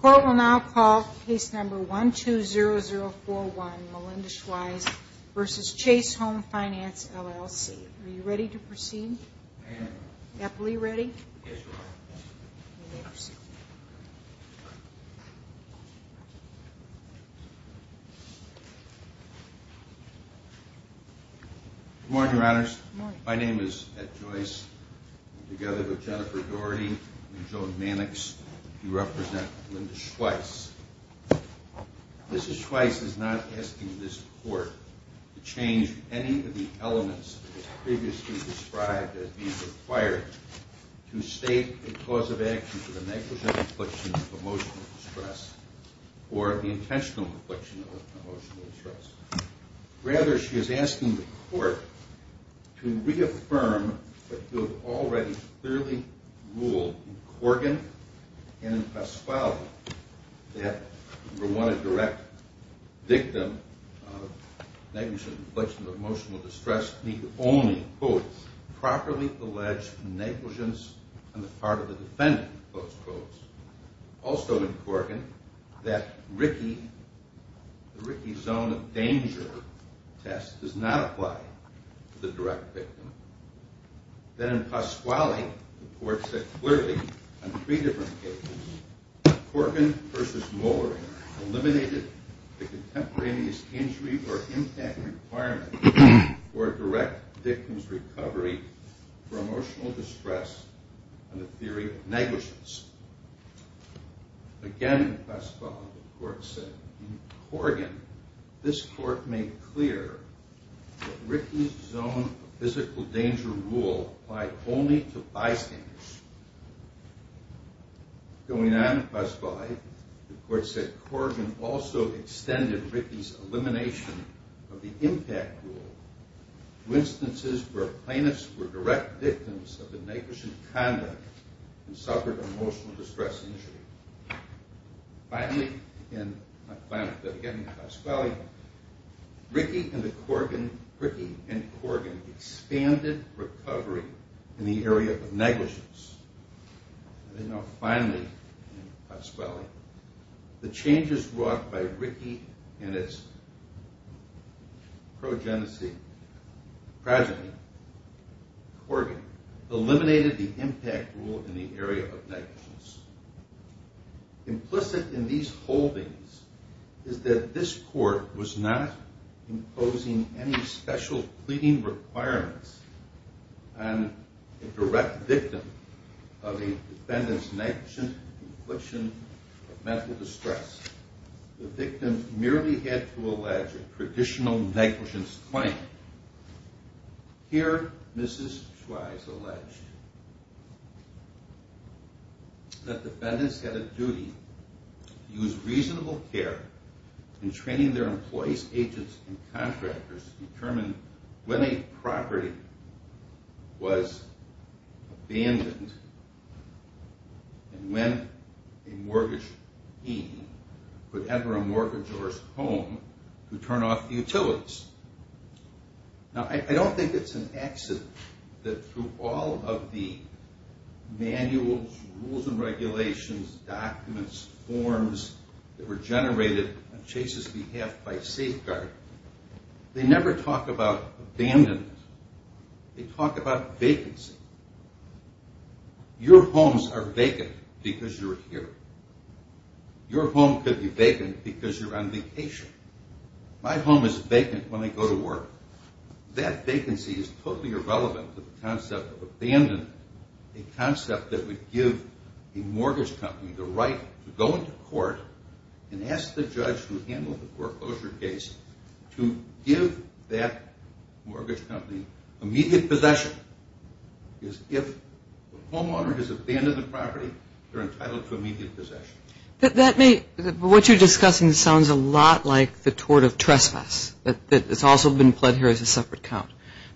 Court will now call case number 120041 Melinda Schweiss v. Chase Home Finance, LLC. Are you ready to proceed? I am. Gappell, are you ready? Yes, Your Honor. Then we may proceed. Good morning, Your Honors. Good morning. My name is Ed Joyce. Together with Jennifer Doherty and Joan Mannix, we represent Melinda Schweiss. Mrs. Schweiss is not asking this Court to change any of the elements that were previously described as being required to state a cause of action for the negligent infliction of emotional distress or the intentional infliction of emotional distress. Rather, she is asking the Court to reaffirm what you have already clearly ruled in Corrigan and in Pasquale that, number one, a direct victim of negligent infliction of emotional distress need only, quote, properly allege negligence on the part of the defendant, close test does not apply to the direct victim. Then in Pasquale, the Court said clearly on three different cases, Corrigan v. Mollering eliminated the contemporaneous injury or impact requirement for a direct victim's recovery for emotional distress on the theory of negligence. Again in Pasquale, the Court said in Corrigan, this Court made clear that Rickey's zone of physical danger rule applied only to bystanders. Going on in Pasquale, the Court said Corrigan also extended Rickey's elimination of the impact rule to instances where plaintiffs were direct victims of negligent conduct and suffered emotional distress injury. Finally, in my client, again in Pasquale, Rickey and Corrigan expanded recovery in the area of negligence. Finally, in Pasquale, the changes brought by Rickey and its progeny, Corrigan, eliminated the impact rule in the area of negligence. Implicit in these holdings is that this Court was not imposing any special pleading requirements on a direct victim of a defendant's negligent completion of mental distress. The victim merely had to allege a traditional negligence claim. Here, Mrs. Schweiss alleged that defendants had a duty to use reasonable care in training their employees, agents, and contractors to determine when a property was abandoned and when a mortgagee put ever a mortgagor's home to turn off the utilities. Now, I don't think it's an accident that through all of the manuals, rules and regulations, documents, forms that were generated on Chase's behalf by Safeguard, they never talk about abandonment. They talk about vacancy. Your homes are vacant because you're here. Your home could be vacant because you're on vacation. My home is vacant when I go to work. That vacancy is totally irrelevant to the concept of abandonment, a concept that would give a mortgage company the right to go into court and ask the judge who handled the foreclosure case to give that mortgage company immediate possession because if the homeowner has abandoned the property, they're entitled to immediate possession. That may, what you're discussing sounds a lot like the tort of trespass. It's also been put here as a separate count.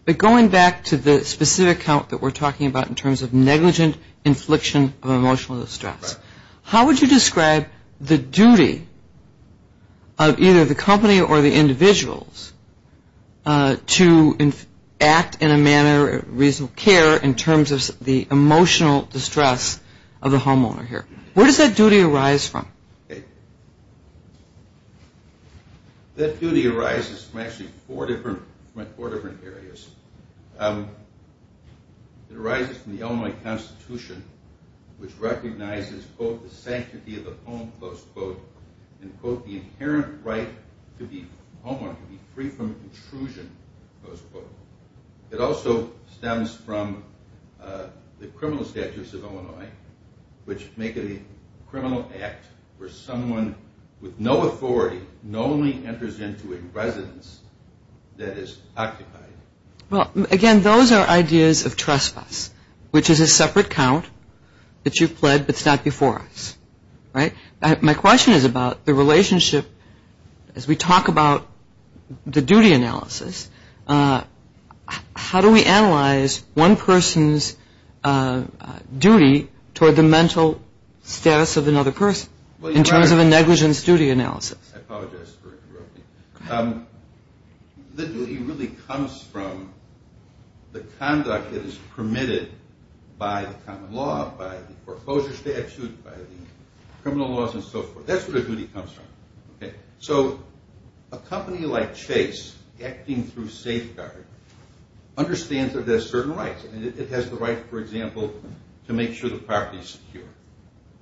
But going back to the specific count that we're talking about in terms of negligent infliction of emotional distress, how would you describe the duty of either the company or the individuals to act in a manner of reasonable care in terms of the emotional distress of the homeowner here? Where does that duty arise from? That duty arises from actually four different areas. It arises from the Illinois Constitution, which recognizes, quote, the sanctity of the home, close quote, and, quote, the inherent right for the homeowner to be free from intrusion, close quote. It also stems from the criminal statutes of Illinois, which make it a criminal act where someone with no authority normally enters into a residence that is occupied. Well, again, those are ideas of trespass, which is a separate count that you've pled, but it's not before us, right? My question is about the relationship as we talk about the duty analysis. How do we analyze one person's duty toward the mental status of another person in terms of a negligence duty analysis? I apologize for interrupting. The duty really comes from the conduct that is permitted by the common law, by the foreclosure statute, by the criminal laws, and so forth. That's where the duty comes from. So a company like Chase, acting through safeguard, understands that it has certain rights. It has the right, for example, to make sure the property is secure.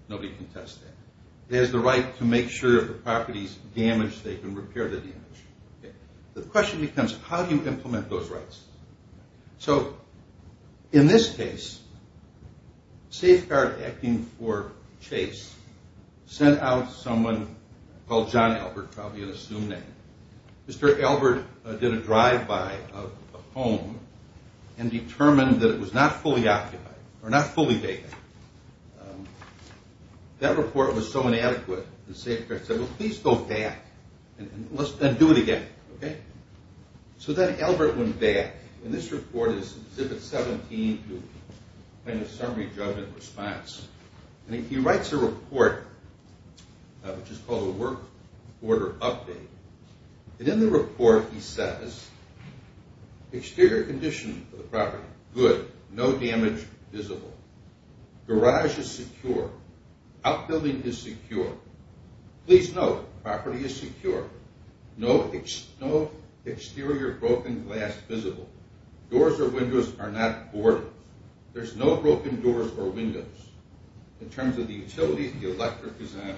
Nobody can test that. It has the right to make sure if the property is damaged, they can repair the damage. The question becomes, how do you implement those rights? So in this case, safeguard acting for Chase sent out someone called John Albert, probably an assumed name. Mr. Albert did a drive-by of a home and determined that it was not fully occupied or not fully vacant. That report was so inadequate, the safeguard said, well, please go back and do it again, okay? So then Albert went back, and this report is Exhibit 17, kind of a summary judgment response. And he writes a report, which is called a Work Order Update. And in the report he says, exterior condition of the property, good, no damage visible. Garage is secure. Outbuilding is secure. Please note, property is secure. No exterior broken glass visible. Doors or windows are not boarded. There's no broken doors or windows. In terms of the utilities, the electric is on.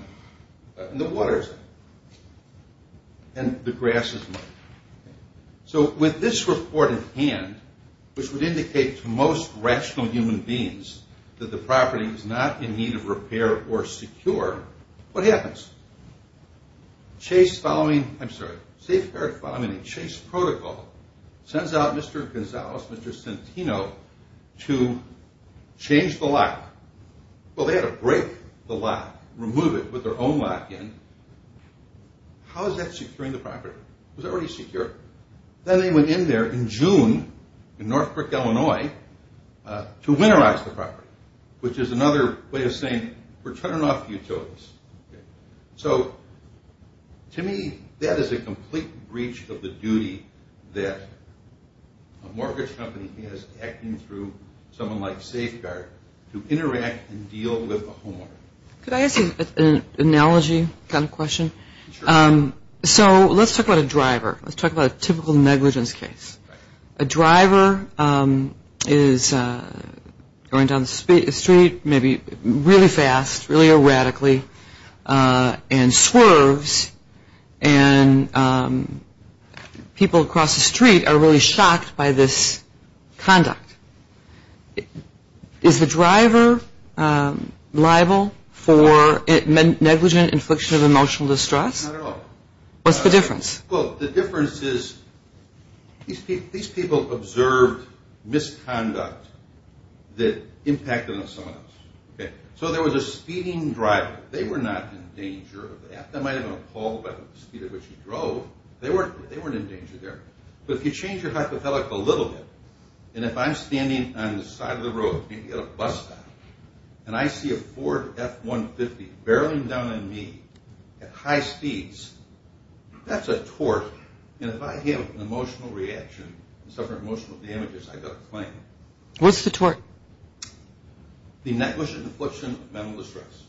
And the water is on. And the grass is on. So with this report in hand, which would indicate to most rational human beings that the property is not in need of repair or secure, what happens? Chase following, I'm sorry, safeguard following a Chase protocol sends out Mr. Gonzalez, Mr. Centino, to change the lock. Well, they had to break the lock, remove it, put their own lock in. How is that securing the property? It was already secure. Then they went in there in June in Northbrook, Illinois, to winterize the property, which is another way of saying we're turning off the utilities. So to me, that is a complete breach of the duty that a mortgage company has acting through someone like safeguard to interact and deal with the homeowner. Could I ask an analogy kind of question? Sure. So let's talk about a driver. Let's talk about a typical negligence case. A driver is going down the street maybe really fast, really erratically, and swerves. And people across the street are really shocked by this conduct. Is the driver liable for negligent infliction of emotional distress? Not at all. What's the difference? Well, the difference is these people observed misconduct that impacted on someone else. So there was a speeding driver. They were not in danger of that. They might have been appalled by the speed at which he drove. They weren't in danger there. But if you change your hypothetical a little bit, and if I'm standing on the side of the road, maybe at a bus stop, and I see a Ford F-150 barreling down on me at high speeds, that's a tort. And if I have an emotional reaction and suffer emotional damages, I've got a claim. What's the tort? The negligent infliction of mental distress.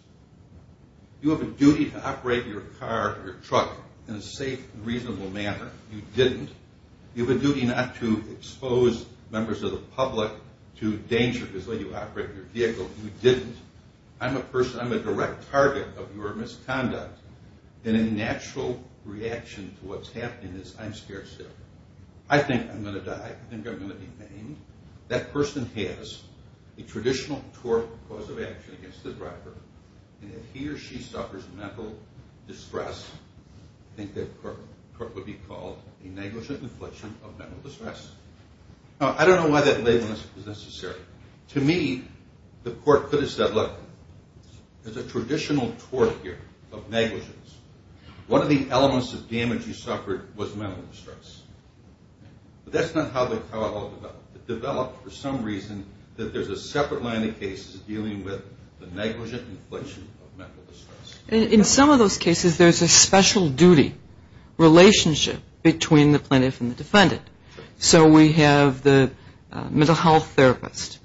You have a duty to operate your car or your truck in a safe and reasonable manner. You didn't. You have a duty not to expose members of the public to danger because they operate your vehicle. You didn't. I'm a person. I'm a direct target of your misconduct. And a natural reaction to what's happening is, I'm scared sick. I think I'm going to die. I think I'm going to be maimed. That person has a traditional tort cause of action against the driver. And if he or she suffers mental distress, I think that court would be called a negligent infliction of mental distress. Now, I don't know why that label is necessary. To me, the court could have said, look, there's a traditional tort here of negligence. One of the elements of damage you suffered was mental distress. But that's not how it all developed. It developed for some reason that there's a separate line of cases dealing with the negligent infliction of mental distress. In some of those cases, there's a special duty relationship between the plaintiff and the defendant. So we have the mental health therapist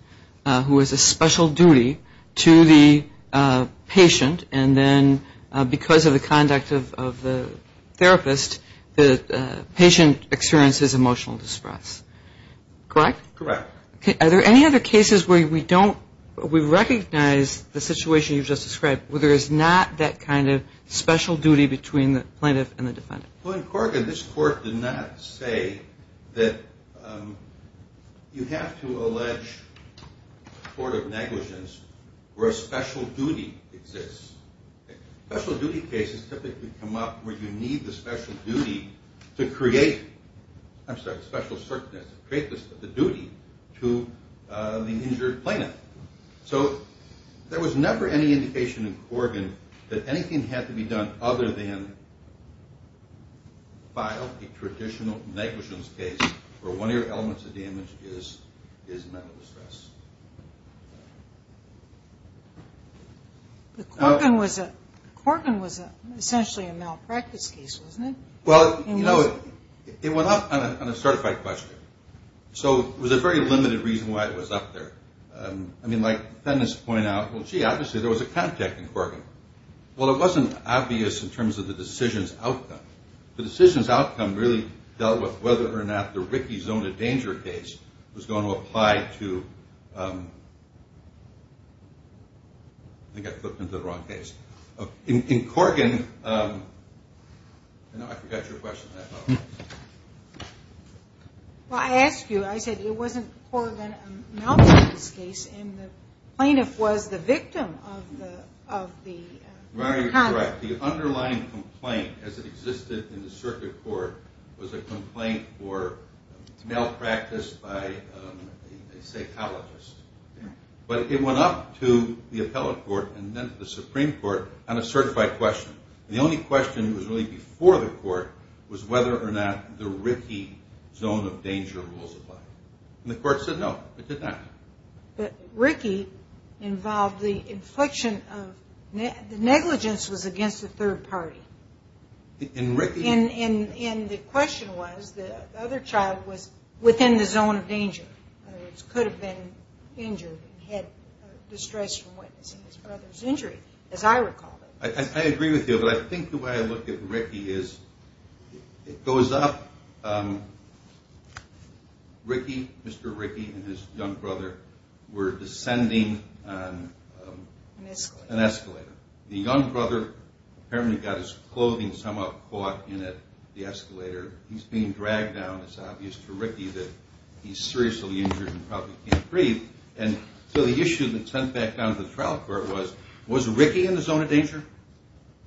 who has a special duty to the patient, and then because of the conduct of the therapist, the patient experiences emotional distress. Correct? Correct. Are there any other cases where we don't, we recognize the situation you just described where there is not that kind of special duty between the plaintiff and the defendant? Well, in Corrigan, this court did not say that you have to allege tort of negligence where a special duty exists. Special duty cases typically come up where you need the special duty to create, I'm sorry, create the duty to the injured plaintiff. So there was never any indication in Corrigan that anything had to be done other than file a traditional negligence case where one of your elements of damage is mental distress. But Corrigan was essentially a malpractice case, wasn't it? Well, you know, it went up on a certified question. So it was a very limited reason why it was up there. I mean, like defendants point out, well, gee, obviously there was a contact in Corrigan. Well, it wasn't obvious in terms of the decision's outcome. The decision's outcome really dealt with whether or not the Ricky Zona Danger case was going to apply to, I think I flipped into the wrong case. In Corrigan, I know I forgot your question. Well, I asked you. I said it wasn't Corrigan that announced this case, and the plaintiff was the victim of the contact. Right, you're correct. The underlying complaint as it existed in the circuit court was a complaint for malpractice by a psychologist. But it went up to the appellate court and then to the Supreme Court on a certified question. And the only question that was really before the court was whether or not the Ricky Zona Danger rules applied. And the court said no, it did not. But Ricky involved the inflection of ñ the negligence was against the third party. And the question was the other child was within the zone of danger. He could have been injured and had distress from witnessing his brother's injury, as I recall. I agree with you, but I think the way I look at Ricky is it goes up. Ricky, Mr. Ricky and his young brother were descending an escalator. The young brother apparently got his clothing somehow caught in it, the escalator. He's being dragged down. It's obvious to Ricky that he's seriously injured and probably can't breathe. And so the issue that sent back down to the trial court was, was Ricky in the zone of danger?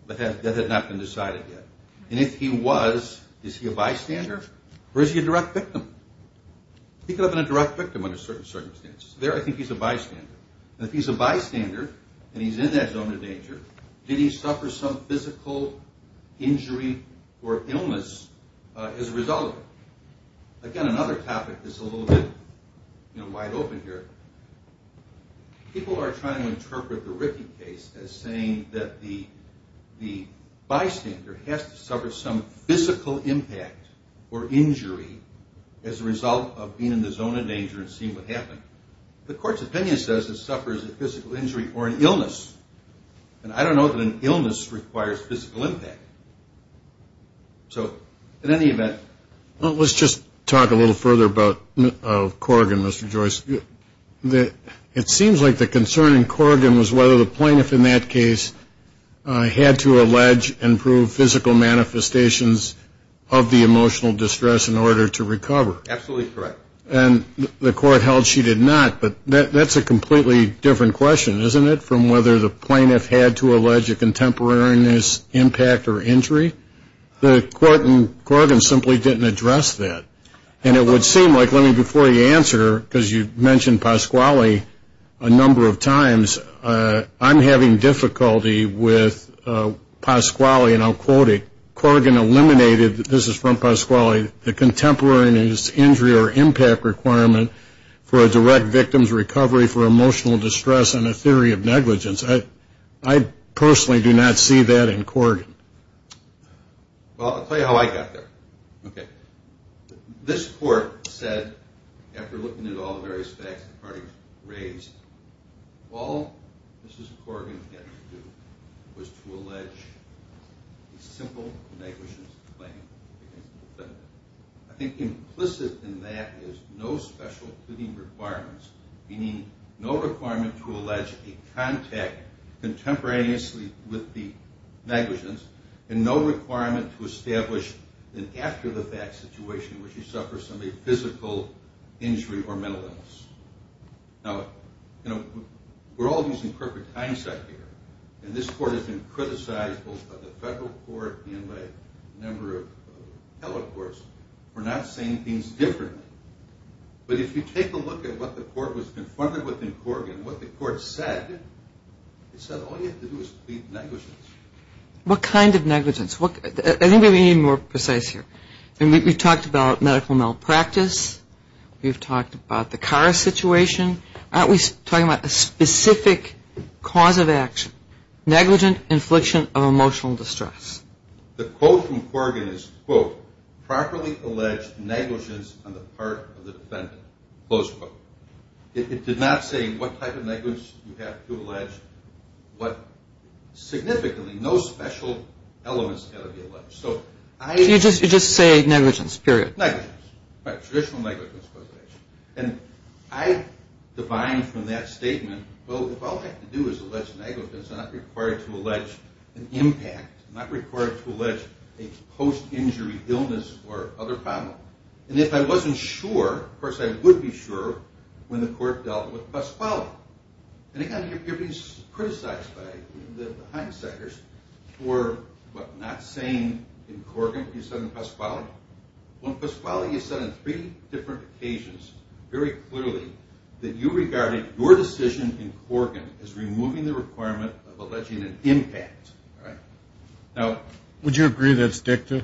That had not been decided yet. And if he was, is he a bystander or is he a direct victim? He could have been a direct victim under certain circumstances. There I think he's a bystander. If he's a bystander and he's in that zone of danger, did he suffer some physical injury or illness as a result of it? Again, another topic that's a little bit wide open here. People are trying to interpret the Ricky case as saying that the bystander has to suffer some physical impact or injury as a result of being in the zone of danger and seeing what happened. The court's opinion says it suffers a physical injury or an illness. And I don't know that an illness requires physical impact. So in any event. Well, let's just talk a little further about Corrigan, Mr. Joyce. It seems like the concern in Corrigan was whether the plaintiff in that case had to allege and prove physical manifestations of the emotional distress in order to recover. Absolutely correct. And the court held she did not. But that's a completely different question, isn't it, from whether the plaintiff had to allege a contemporaneous impact or injury? The court in Corrigan simply didn't address that. And it would seem like, before you answer, because you mentioned Pasquale a number of times, I'm having difficulty with Pasquale, and I'll quote it. Corrigan eliminated, this is from Pasquale, the contemporaneous injury or impact requirement for a direct victim's recovery for emotional distress and a theory of negligence. I personally do not see that in Corrigan. Well, I'll tell you how I got there. Okay. This court said, after looking at all the various facts the parties raised, all Mrs. Corrigan had to do was to allege a simple negligence claim against the defendant. I think implicit in that is no special cleaning requirements, meaning no requirement to allege a contact contemporaneously with the negligence and no requirement to establish an after-the-fact situation where she suffered some physical injury or mental illness. Now, you know, we're all using perfect hindsight here, and this court has been criticized both by the federal court and by a number of tele courts for not saying things differently. But if you take a look at what the court was confronted with in Corrigan, what the court said, it said all you have to do is plead negligence. What kind of negligence? I think we need to be more precise here. We've talked about medical malpractice. We've talked about the car situation. Aren't we talking about a specific cause of action? Negligent infliction of emotional distress. The quote from Corrigan is, quote, properly allege negligence on the part of the defendant, close quote. It did not say what type of negligence you have to allege, but significantly no special elements have to be alleged. You just say negligence, period. Negligence. Traditional negligence. And I divine from that statement, well, if all I have to do is allege negligence, I'm not required to allege an impact, I'm not required to allege a post-injury illness or other problem. And if I wasn't sure, of course I would be sure, when the court dealt with post-quality. And again, you're being criticized by the hindsighters for, what, not saying in Corrigan what you said in post-quality. Now, when post-quality is said on three different occasions, very clearly, that you regarded your decision in Corrigan as removing the requirement of alleging an impact. Now, would you agree that's dicta?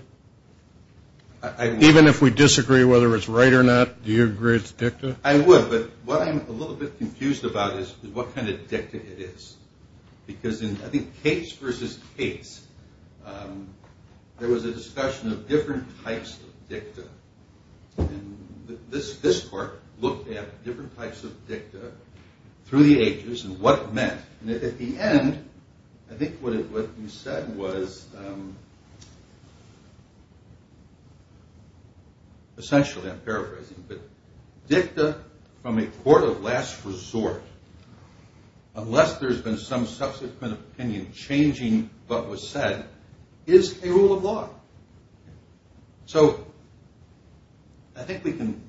Even if we disagree whether it's right or not, do you agree it's dicta? I would, but what I'm a little bit confused about is what kind of dicta it is. Because in, I think, Cates versus Cates, there was a discussion of different types of dicta. And this court looked at different types of dicta through the ages and what it meant. And at the end, I think what you said was, essentially, I'm paraphrasing, but, dicta from a court of last resort, unless there's been some subsequent opinion changing what was said, is a rule of law. So, I think we can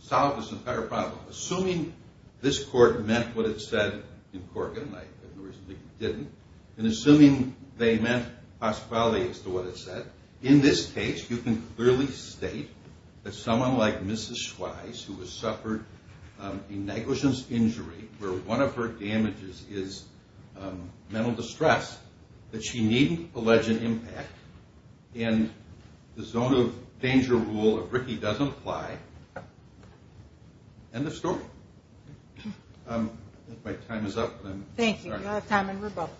solve this entire problem. Assuming this court meant what it said in Corrigan, like it originally didn't, and assuming they meant post-quality as to what it said, in this case, you can clearly state that someone like Mrs. Schweiss, who has suffered a negligence injury where one of her damages is mental distress, that she needn't allege an impact, and the zone of danger rule of Ricky doesn't apply. End of story. I think my time is up. Thank you. You have time, and we're both.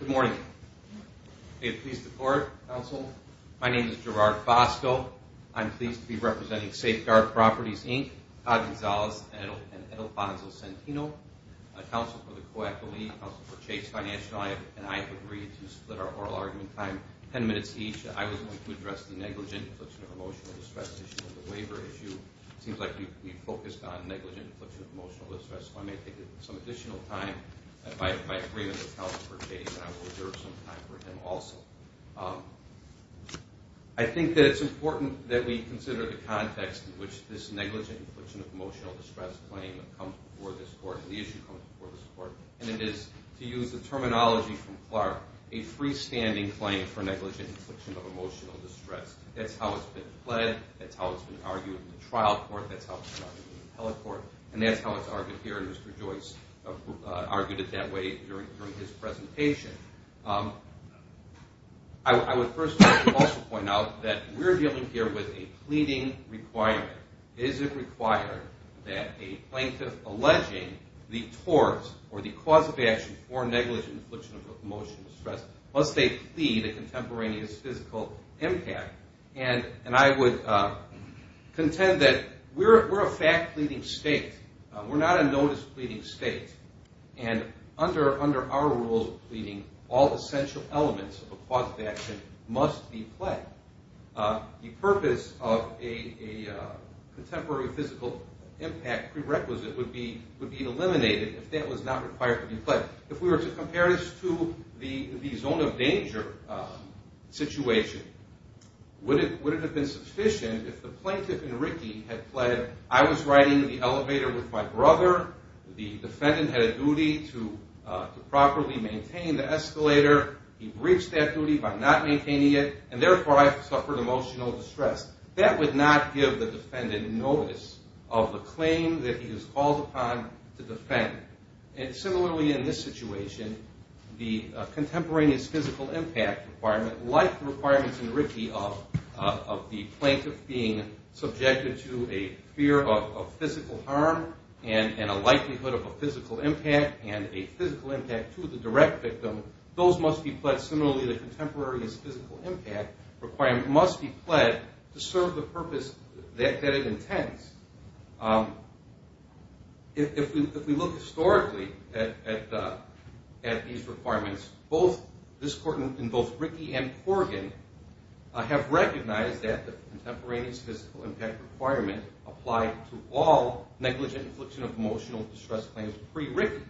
Good morning. Are you pleased to court, counsel? My name is Gerard Fosco. I'm pleased to be representing Safeguard Properties, Inc., Todd Gonzalez, and Edilfonso Centino, counsel for the co-acolyte, counsel for Chase Financial, and I have agreed to split our oral argument time 10 minutes each. but I'm going to address the panel. I'm going to address the negligent infliction of emotional distress issue and the waiver issue. It seems like we've focused on negligent infliction of emotional distress, so I may take some additional time. By agreement of counsel for Chase, I will reserve some time for him also. I think that it's important that we consider the context in which this negligent infliction of emotional distress claim comes before this court and the issue comes before this court, and it is, to use the terminology from Clark, a freestanding claim for negligent infliction of emotional distress. That's how it's been pled, that's how it's been argued in the trial court, that's how it's been argued in the appellate court, and that's how it's argued here, and Mr. Joyce argued it that way during his presentation. I would first also point out that we're dealing here with a pleading requirement. Is it required that a plaintiff alleging the tort or the cause of action for negligent infliction of emotional distress must they plead a contemporaneous physical impact? And I would contend that we're a fact-pleading state. We're not a notice-pleading state, and under our rules of pleading, all essential elements of a cause of action must be pled. The purpose of a contemporary physical impact prerequisite would be eliminated if that was not required to be pled. If we were to compare this to the zone of danger situation, would it have been sufficient if the plaintiff and Ricky had pled, I was riding in the elevator with my brother, the defendant had a duty to properly maintain the escalator, he breached that duty by not maintaining it, and therefore I suffered emotional distress. That would not give the defendant notice of the claim that he was called upon to defend. And similarly in this situation, the contemporaneous physical impact requirement, like the requirements in Ricky of the plaintiff being subjected to a fear of physical harm and a likelihood of a physical impact and a physical impact to the direct victim, those must be pled. Similarly, the contemporaneous physical impact requirement must be pled to serve the purpose that it intends. If we look historically at these requirements, both this court and both Ricky and Corgan have recognized that the contemporaneous physical impact requirement applied to all negligent infliction of emotional distress claims pre-Ricky.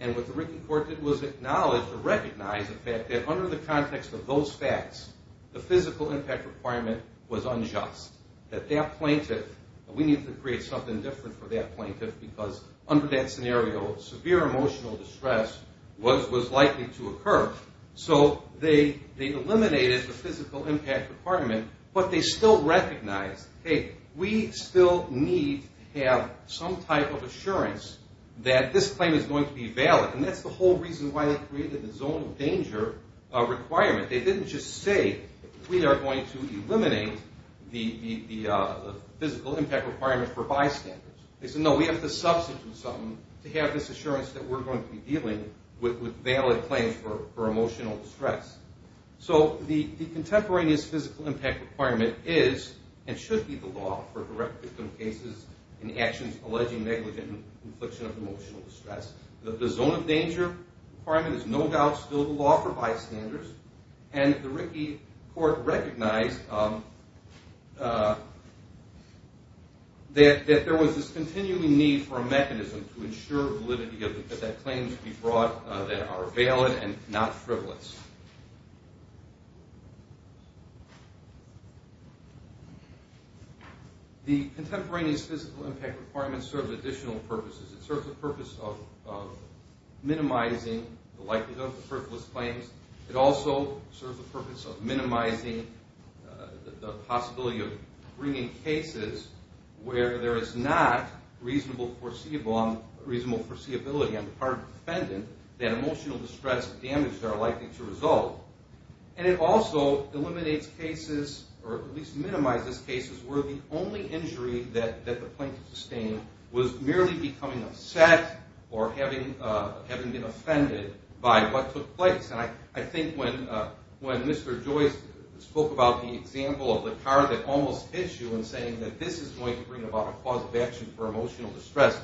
And what the Ricky court did was acknowledge or recognize the fact that under the context of those facts, the physical impact requirement was unjust. That that plaintiff, we need to create something different for that plaintiff because under that scenario, severe emotional distress was likely to occur. So they eliminated the physical impact requirement, but they still recognized, hey, we still need to have some type of assurance that this claim is going to be valid. And that's the whole reason why they created the zone of danger requirement. They didn't just say we are going to eliminate the physical impact requirement for bystanders. They said, no, we have to substitute something to have this assurance that we're going to be dealing with valid claims for emotional distress. So the contemporaneous physical impact requirement is and should be the law for direct victim cases and actions alleging negligent infliction of emotional distress. The zone of danger requirement is no doubt still the law for bystanders. And the Rickey Court recognized that there was this continuing need for a mechanism to ensure validity that that claims be brought that are valid and not frivolous. The contemporaneous physical impact requirement serves additional purposes. It serves the purpose of minimizing the likelihood of frivolous claims. It also serves the purpose of minimizing the possibility of bringing cases where there is not reasonable foreseeability on the part of the defendant that emotional distress and damage are likely to result. And it also eliminates cases, or at least minimizes cases where the only injury that the plaintiff sustained was merely becoming upset or having been offended by what took place. And I think when Mr. Joyce spoke about the example of the car that almost hits you and saying that this is going to bring about a cause of action for emotional distress,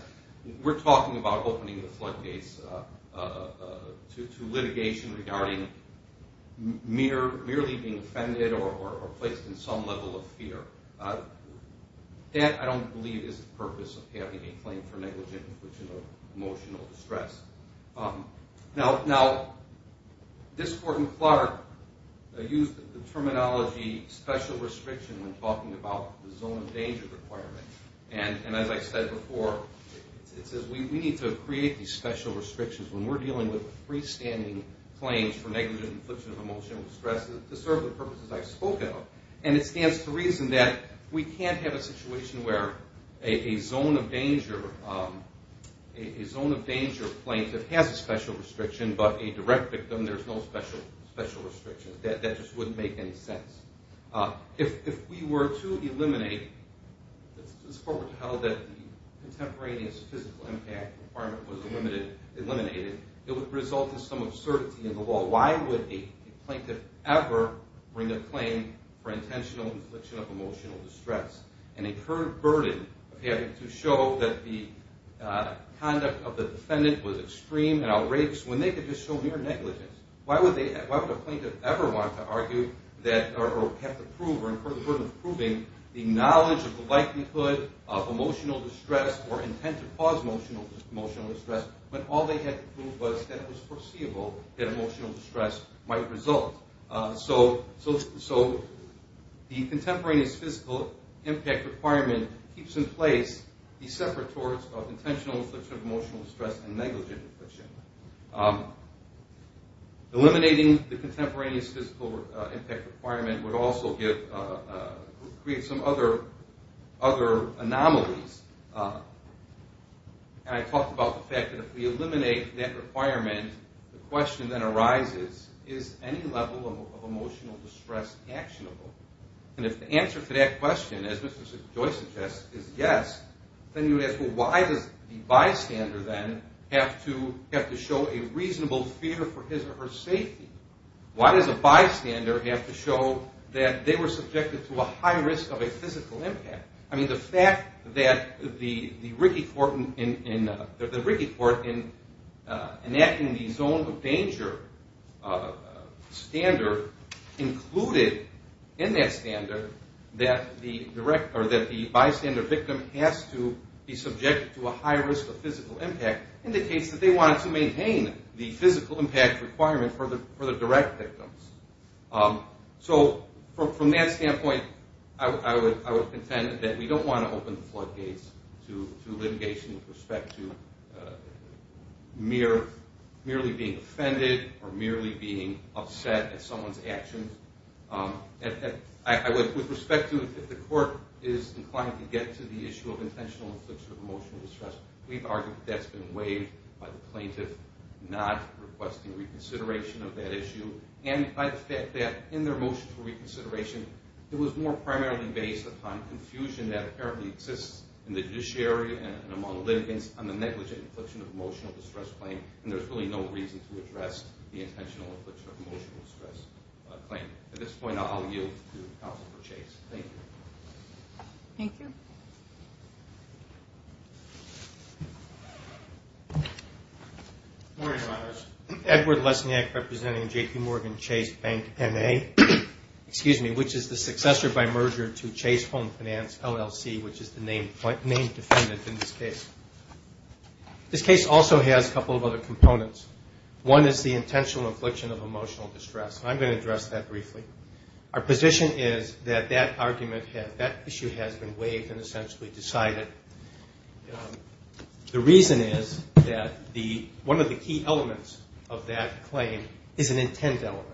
we're talking about opening the floodgates to litigation regarding merely being offended or placed in some level of fear. That, I don't believe, is the purpose of having a claim for negligent infliction of emotional distress. Now, this Court in Clark used the terminology special restriction when talking about the zone of danger requirement. And as I said before, it says we need to create these special restrictions when we're dealing with freestanding claims for negligent infliction of emotional distress to serve the purposes I've spoken of. And it stands to reason that we can't have a situation where a zone of danger plaintiff has a special restriction, but a direct victim there's no special restriction. That just wouldn't make any sense. If we were to eliminate... This Court would have held that the contemporaneous physical impact requirement was eliminated, it would result in some absurdity in the law. So why would a plaintiff ever bring a claim for intentional infliction of emotional distress and incur a burden of having to show that the conduct of the defendant was extreme and outrageous when they could just show mere negligence? Why would a plaintiff ever want to argue or have to prove or incur the burden of proving the knowledge of the likelihood of emotional distress or intent to cause emotional distress when all they had to prove was that it was foreseeable that emotional distress might result? So the contemporaneous physical impact requirement keeps in place these separators of intentional infliction of emotional distress and negligent infliction. Eliminating the contemporaneous physical impact requirement would also create some other anomalies. And I talked about the fact that if we eliminate that requirement, the question then arises, is any level of emotional distress actionable? And if the answer to that question, as Mr. Joyce suggests, is yes, then you ask, well, why does the bystander then have to show a reasonable fear for his or her safety? Why does a bystander have to show that they were subjected to a high risk of a physical impact? I mean, the fact that the Rikki Court in enacting the zone of danger standard included in that standard that the bystander victim has to be subjected to a high risk of physical impact indicates that they wanted to maintain the physical impact requirement for the direct victims. So from that standpoint, I would contend that we don't want to open the floodgates to litigation with respect to merely being offended or merely being upset at someone's actions. With respect to if the court is inclined to get to the issue of intentional infliction of emotional distress, we've argued that that's been waived by the plaintiff not requesting reconsideration of that issue and by the fact that in their motion for reconsideration, it was more primarily based upon confusion that apparently exists in the judiciary and among litigants on the negligent infliction of emotional distress claim and there's really no reason to address the intentional infliction of emotional distress claim. At this point, I'll yield to Counselor Chase. Thank you. Thank you. Good morning, Your Honors. Edward Lesniak representing J.P. Morgan Chase Bank, M.A. which is the successor by merger to Chase Home Finance, LLC which is the named defendant in this case. This case also has a couple of other components. One is the intentional infliction of emotional distress and I'm going to address that briefly. Our position is that that issue has been waived and essentially decided. The reason is that one of the key elements of that claim is an intent element.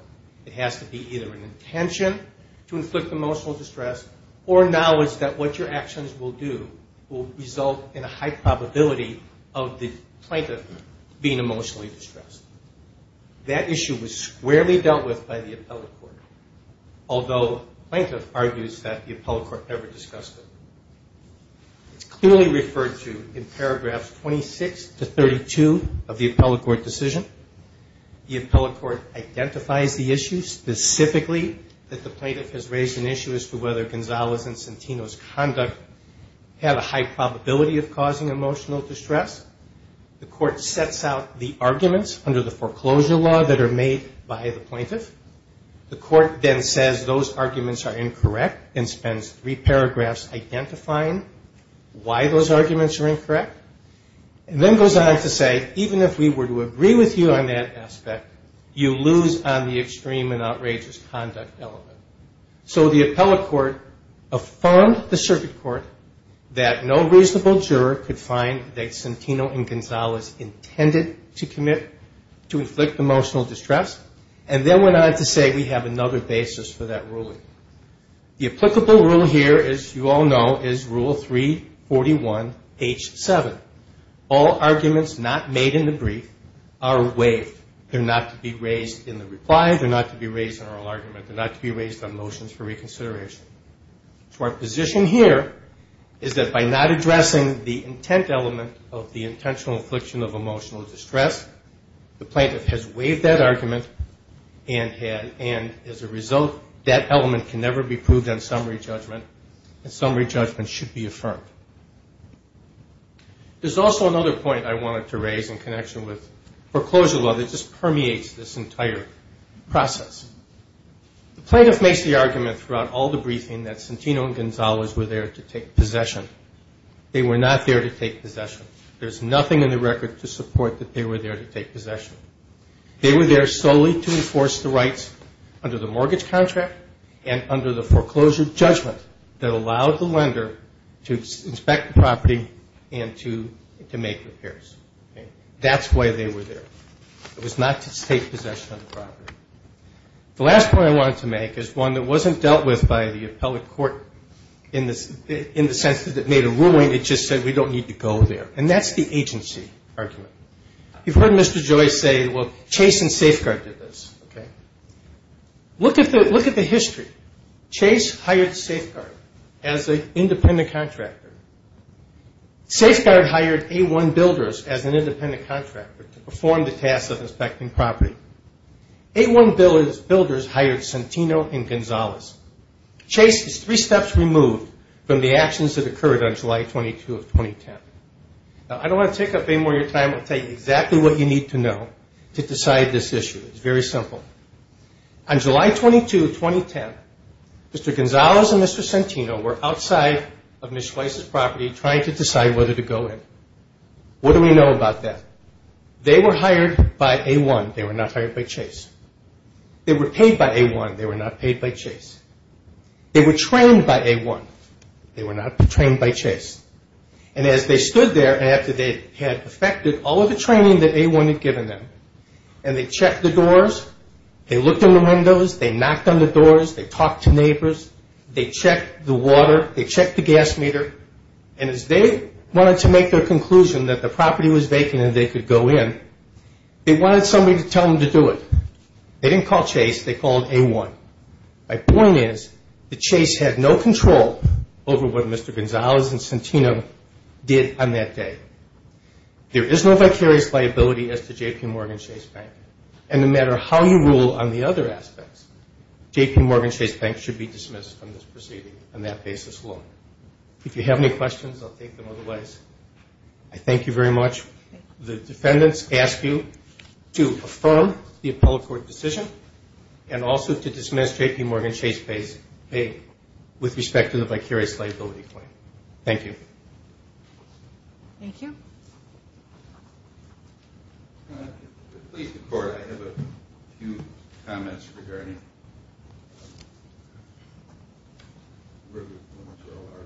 It has to be either an intention to inflict emotional distress or knowledge that what your actions will do will result in a high probability of the plaintiff being emotionally distressed. That issue was squarely dealt with by the appellate court although plaintiff argues that the appellate court never discussed it. It's clearly referred to in paragraphs 26 to 32 of the appellate court decision. The appellate court identifies the issue specifically that the plaintiff has raised an issue as to whether Gonzalez and Centino's conduct had a high probability of causing emotional distress. The court sets out the arguments under the foreclosure law that are made by the plaintiff. The court then says those arguments are incorrect and spends three paragraphs identifying why those arguments are incorrect and then goes on to say even if we were to agree with you on that aspect, you lose on the extreme and outrageous conduct element. So the appellate court affirmed the circuit court that no reasonable juror could find that Centino and Gonzalez intended to commit to inflict emotional distress and then went on to say we have another basis for that ruling. The applicable rule here, as you all know, is rule 341H7. All arguments not made in the brief are waived. They're not to be raised in the reply. They're not to be raised in oral argument. They're not to be raised on motions for reconsideration. So our position here is that by not addressing the intent element of the intentional infliction of emotional distress, the plaintiff has waived that argument and as a result that element can never be proved on summary judgment and summary judgment should be affirmed. There's also another point I wanted to raise in connection with foreclosure law that just permeates this entire process. The plaintiff makes the argument throughout all the briefing that Centino and Gonzalez were there to take possession. They were not there to take possession. There's nothing in the record to support that they were there to take possession. They were there solely to enforce the rights under the mortgage contract and under the foreclosure judgment that allowed the lender to inspect the property and to make repairs. That's why they were there. It was not to take possession of the property. The last point I wanted to make is one that wasn't dealt with by the appellate court in the sense that it made a ruling. It just said we don't need to go there and that's the agency argument. You've heard Mr. Joyce say Chase and Safeguard did this. Look at the history. Chase hired Safeguard as an independent contractor. Safeguard hired A1 Builders as an independent contractor to perform the task of inspecting property. A1 Builders hired Centino and Gonzalez Chase is three steps removed from the actions that occurred on July 22, 2010. I don't want to take up any more of your time. I'll tell you exactly what you need to know to decide this issue. It's very simple. On July 22, 2010, Mr. Gonzalez and Mr. Centino were outside of Ms. Joyce's property trying to decide whether to go in. What do we know about that? They were hired by A1. They were not hired by Chase. They were paid by A1. They were not paid by Chase. They were trained by A1. They were not trained by Chase. And as they stood there after they had perfected all of the training that A1 had given them and they checked the doors, they looked in the windows, they knocked on the doors, they talked to neighbors, they checked the water, they checked the gas meter, and as they wanted to make their conclusion that the property was vacant and they could go in, they wanted somebody to tell them to do it. They didn't call Chase. They called A1. My point is that Chase had no control over what Mr. Gonzalez and Centino did on that day. There is no vicarious liability as to JPMorgan Chase Bank. And no matter how you rule on the other aspects, JPMorgan Chase Bank should be dismissed from this proceeding on that basis alone. If you have any questions, I'll take them otherwise. I thank you very much. The defendants ask you to affirm the appellate court decision and also to dismiss JPMorgan Chase Bank with respect to the vicarious liability claim. Thank you. Thank you. To please the Court, I have a few comments regarding where the points are.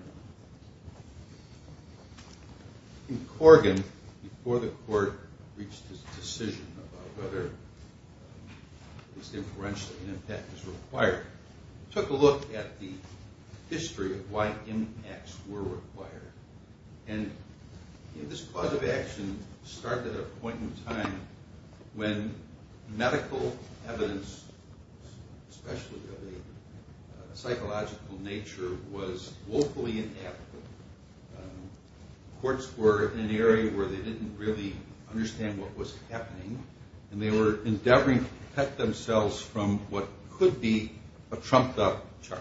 In Corrigan, before the Court reached its decision about whether, at least inferentially, an impact was required, it took a look at the history of why impacts were required. And this clause of action started at a point in time when medical evidence, especially of a psychological nature, was woefully inadequate. Courts were in an area where they didn't really understand what was happening and they were endeavoring to protect themselves from what could be a trumped-up charge.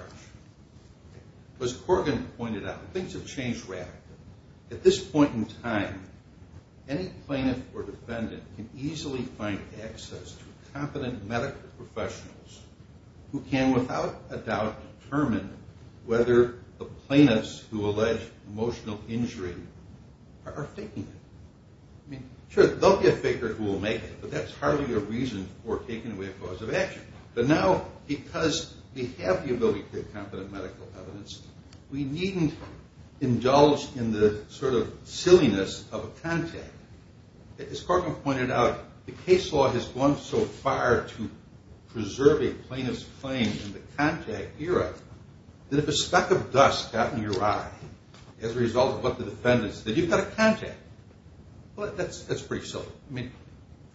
As Corrigan pointed out, things have changed radically. At this point in time, any plaintiff or defendant can easily find access to competent medical professionals who can, without a doubt, determine whether the plaintiffs who allege emotional injury are faking it. Sure, they'll be a faker who will make it, but that's hardly a reason for taking away a clause of action. But now, because we have the ability to get competent medical evidence, we needn't indulge in the sort of silliness of a contact. As Corrigan pointed out, the case law has gone so far to preserve a plaintiff's claim in the contact era that if a speck of dust got in your eye as a result of what the defendant said, you've got a contact.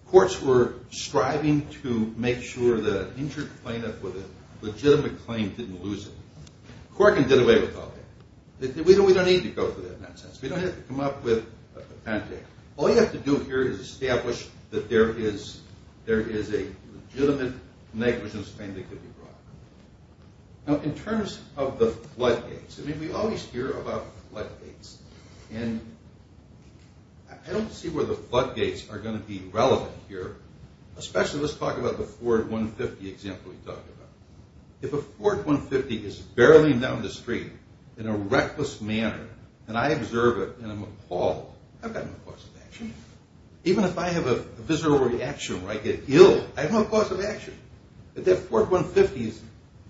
Courts were striving to make sure that an injured plaintiff with a legitimate claim didn't lose it. Corrigan did away with all that. We don't need to go through that nonsense. We don't have to come up with a patent. All you have to do here is establish that there is a legitimate negligence claim that could be brought. Now, in terms of the floodgates, we always hear about floodgates, and I don't see where the floodgates are going to be relevant here. Especially, let's talk about the Ford 150 example we talked about. If a Ford 150 is barreling down the street in a reckless manner, and I observe it, and I'm appalled, I've got no cause of action. Even if I have a visceral reaction where I get ill, I have no cause of action. If that Ford 150 is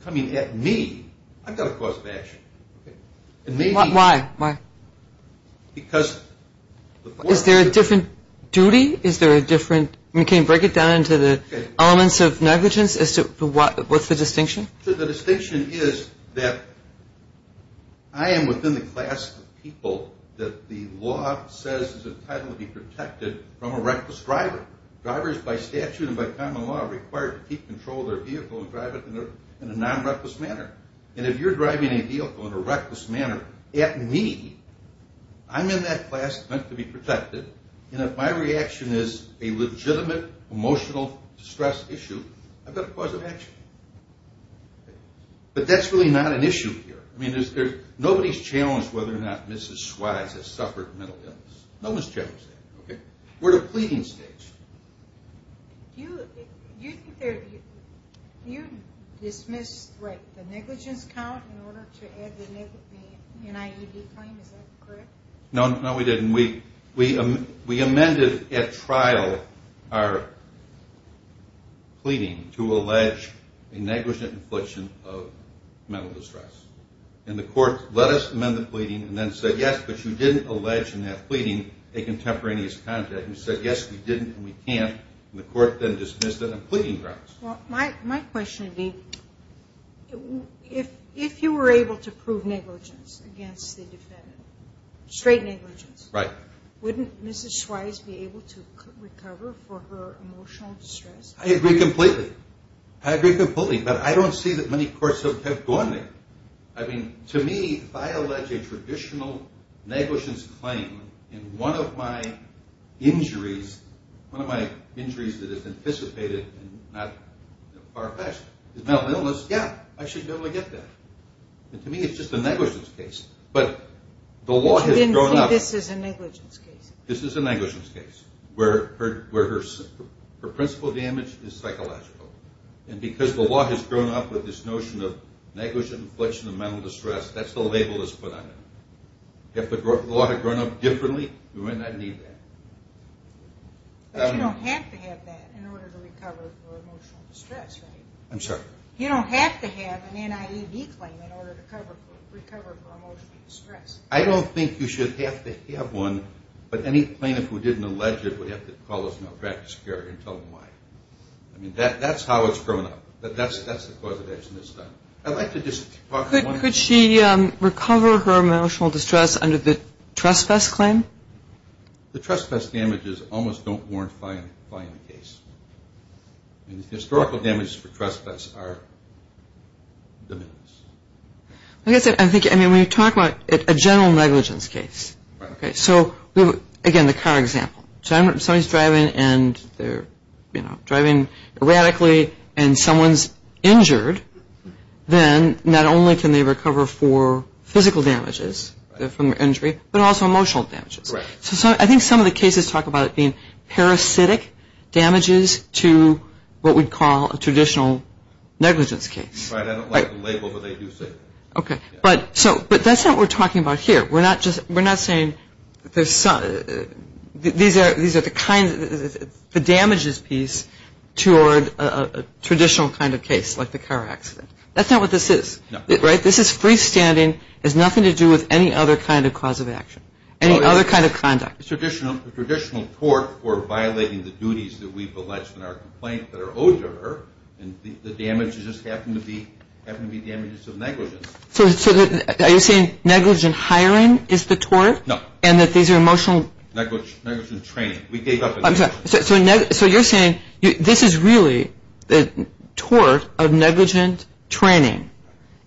coming at me, I've got a cause of action. Why? Is there a different duty? Can you break it down into the elements of negligence? What's the distinction? The distinction is that I am within the class of people that the law says is entitled to be protected from a reckless driver. Drivers, by statute and by common law, are required to keep control of their vehicle and drive it in a non-reckless manner. If you're driving a vehicle in a reckless manner at me, I'm in that class meant to be protected, and if my reaction is a legitimate emotional distress issue, I've got a cause of action. But that's really not an issue here. Nobody's challenged whether or not Mrs. Swythe has suffered mental illness. No one's challenged that. We're at a pleading stage. Do you dismiss the negligence count in order to add the NIED claim? Is that correct? No, we didn't. We amended at trial our pleading to allege a negligent infliction of mental distress. And the court let us amend the pleading and then said, yes, but you didn't allege in that pleading a contemporaneous contact. You said, yes, we didn't and we can't, and the court then dismissed it on pleading grounds. My question would be, if you were able to prove negligence against the defendant, straight negligence, wouldn't Mrs. Swythe be able to recover for her emotional distress? I agree completely. But I don't see that many courts have gone there. I mean, to me, if I allege a traditional negligence claim in one of my injuries, one of my injuries that is anticipated and not far-fetched is mental illness, yeah, I should be able to get that. To me, it's just a negligence case. I didn't think this was a negligence case. This is a negligence case where her principal damage is psychological. And because the law has grown up with this notion of negligent infliction of mental distress, that's the label that's put on it. If the law had grown up differently, we might not need that. But you don't have to have that in order to recover for emotional distress, right? I'm sorry? You don't have to have an NIED claim in order to recover for emotional distress. I don't think you should have to have one, but any plaintiff who didn't allege it would have to call us in our practice and tell them why. I mean, that's how it's grown up. But that's the cause of action that's done. I'd like to just talk about one thing. Could she recover her emotional distress under the trespass claim? The trespass damages almost don't warrant filing the case. I mean, the historical damages for trespass are diminished. I guess I'm thinking, I mean, when you talk about a general negligence case. Right. Okay, so again, the car example. If somebody's driving and they're driving erratically and someone's injured, then not only can they recover for physical damages from the injury, but also emotional damages. Correct. So I think some of the cases talk about it being parasitic damages to what we'd call a traditional negligence case. Right, I don't like the label, but they do say that. Okay, but that's not what we're talking about here. We're not saying these are the damages piece toward a traditional kind of case like the car accident. That's not what this is, right? This is freestanding. It has nothing to do with any other kind of cause of action, any other kind of conduct. Traditional tort for violating the duties that we've alleged in our complaint that are owed to her, and the damages just happen to be damages of negligence. So are you saying negligent hiring is the tort? No. And that these are emotional... Negligent training. So you're saying this is really the tort of negligent training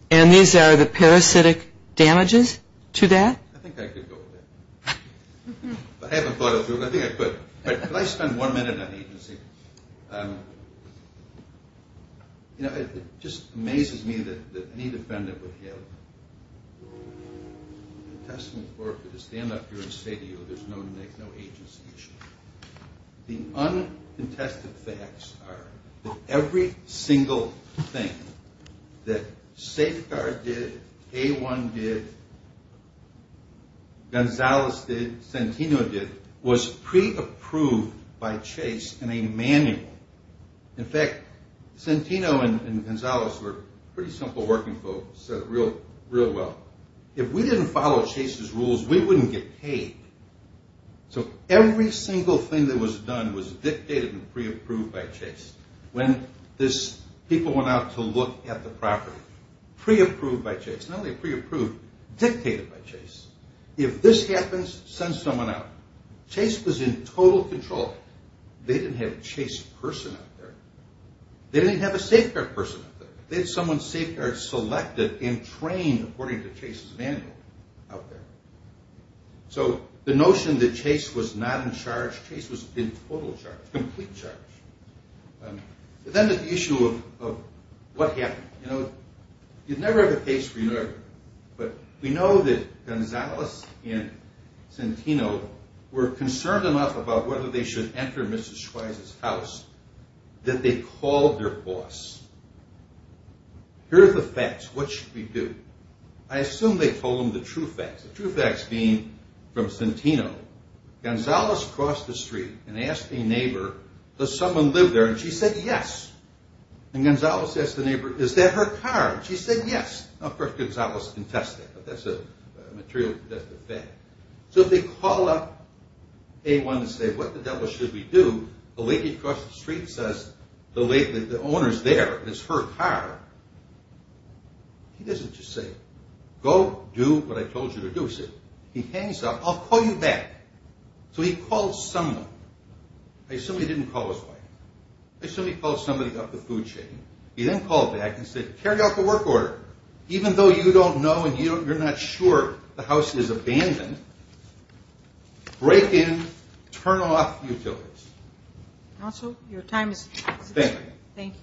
and these are the parasitic damages to that? I think I could go with that. I haven't thought it through, but I think I could. Could I spend one minute on agency? You know, it just amazes me that any defendant would have a testament for it to stand up here and say to you there's no agency issue. The uncontested facts are that every single thing that Safeguard did, A1 did, Gonzales did, Santino did, was pre-approved by Chase in a manual. In fact, Santino and Gonzales were pretty simple working folks and said it real well. If we didn't follow Chase's rules, we wouldn't get paid. So every single thing that was done was dictated and pre-approved by Chase. When people went out to look at the property, pre-approved by Chase. None of the pre-approved dictated by Chase. If this happens, send someone out. Chase was in total control. They didn't have a Chase person out there. They didn't have a Safeguard person out there. They had someone Safeguard selected and trained according to Chase's manual out there. So the notion that Chase was not in charge, Chase was in total charge, complete charge. Then the issue of what happened. You know, you'd never have a case for your neighbor. But we know that Gonzales and Santino were concerned enough about whether they should enter Mrs. Schweizer's house that they called their boss. Here are the facts. What should we do? I assume they told them the true facts. The true facts being from Santino, Gonzales crossed the street and asked a neighbor, does someone live there? And she said yes. And Gonzales asked the neighbor, is that her car? And she said yes. Of course, Gonzales confessed that, but that's a material fact. So if they call up A1 and say, what the devil should we do? The lady across the street says the owner's there, it's her car. He doesn't just say, go do what I told you to do. He hangs up, I'll call you back. So he called someone. I assume he didn't call his wife. I assume he called somebody up the food chain. He then called back and said carry out the work order. Even though you don't know and you're not sure the house is abandoned, break in, turn off utilities. Thank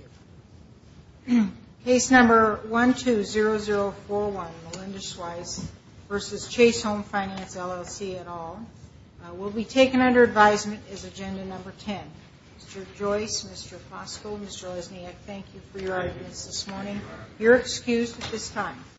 you. Case number 120041, Melinda Schweizer versus Chase Home Finance LLC et al. Will be taken under advisement as agenda number 10. Mr. Joyce, Mr. Foskell, Mr. Osniak, thank you for your arguments this morning. You're excused at this time.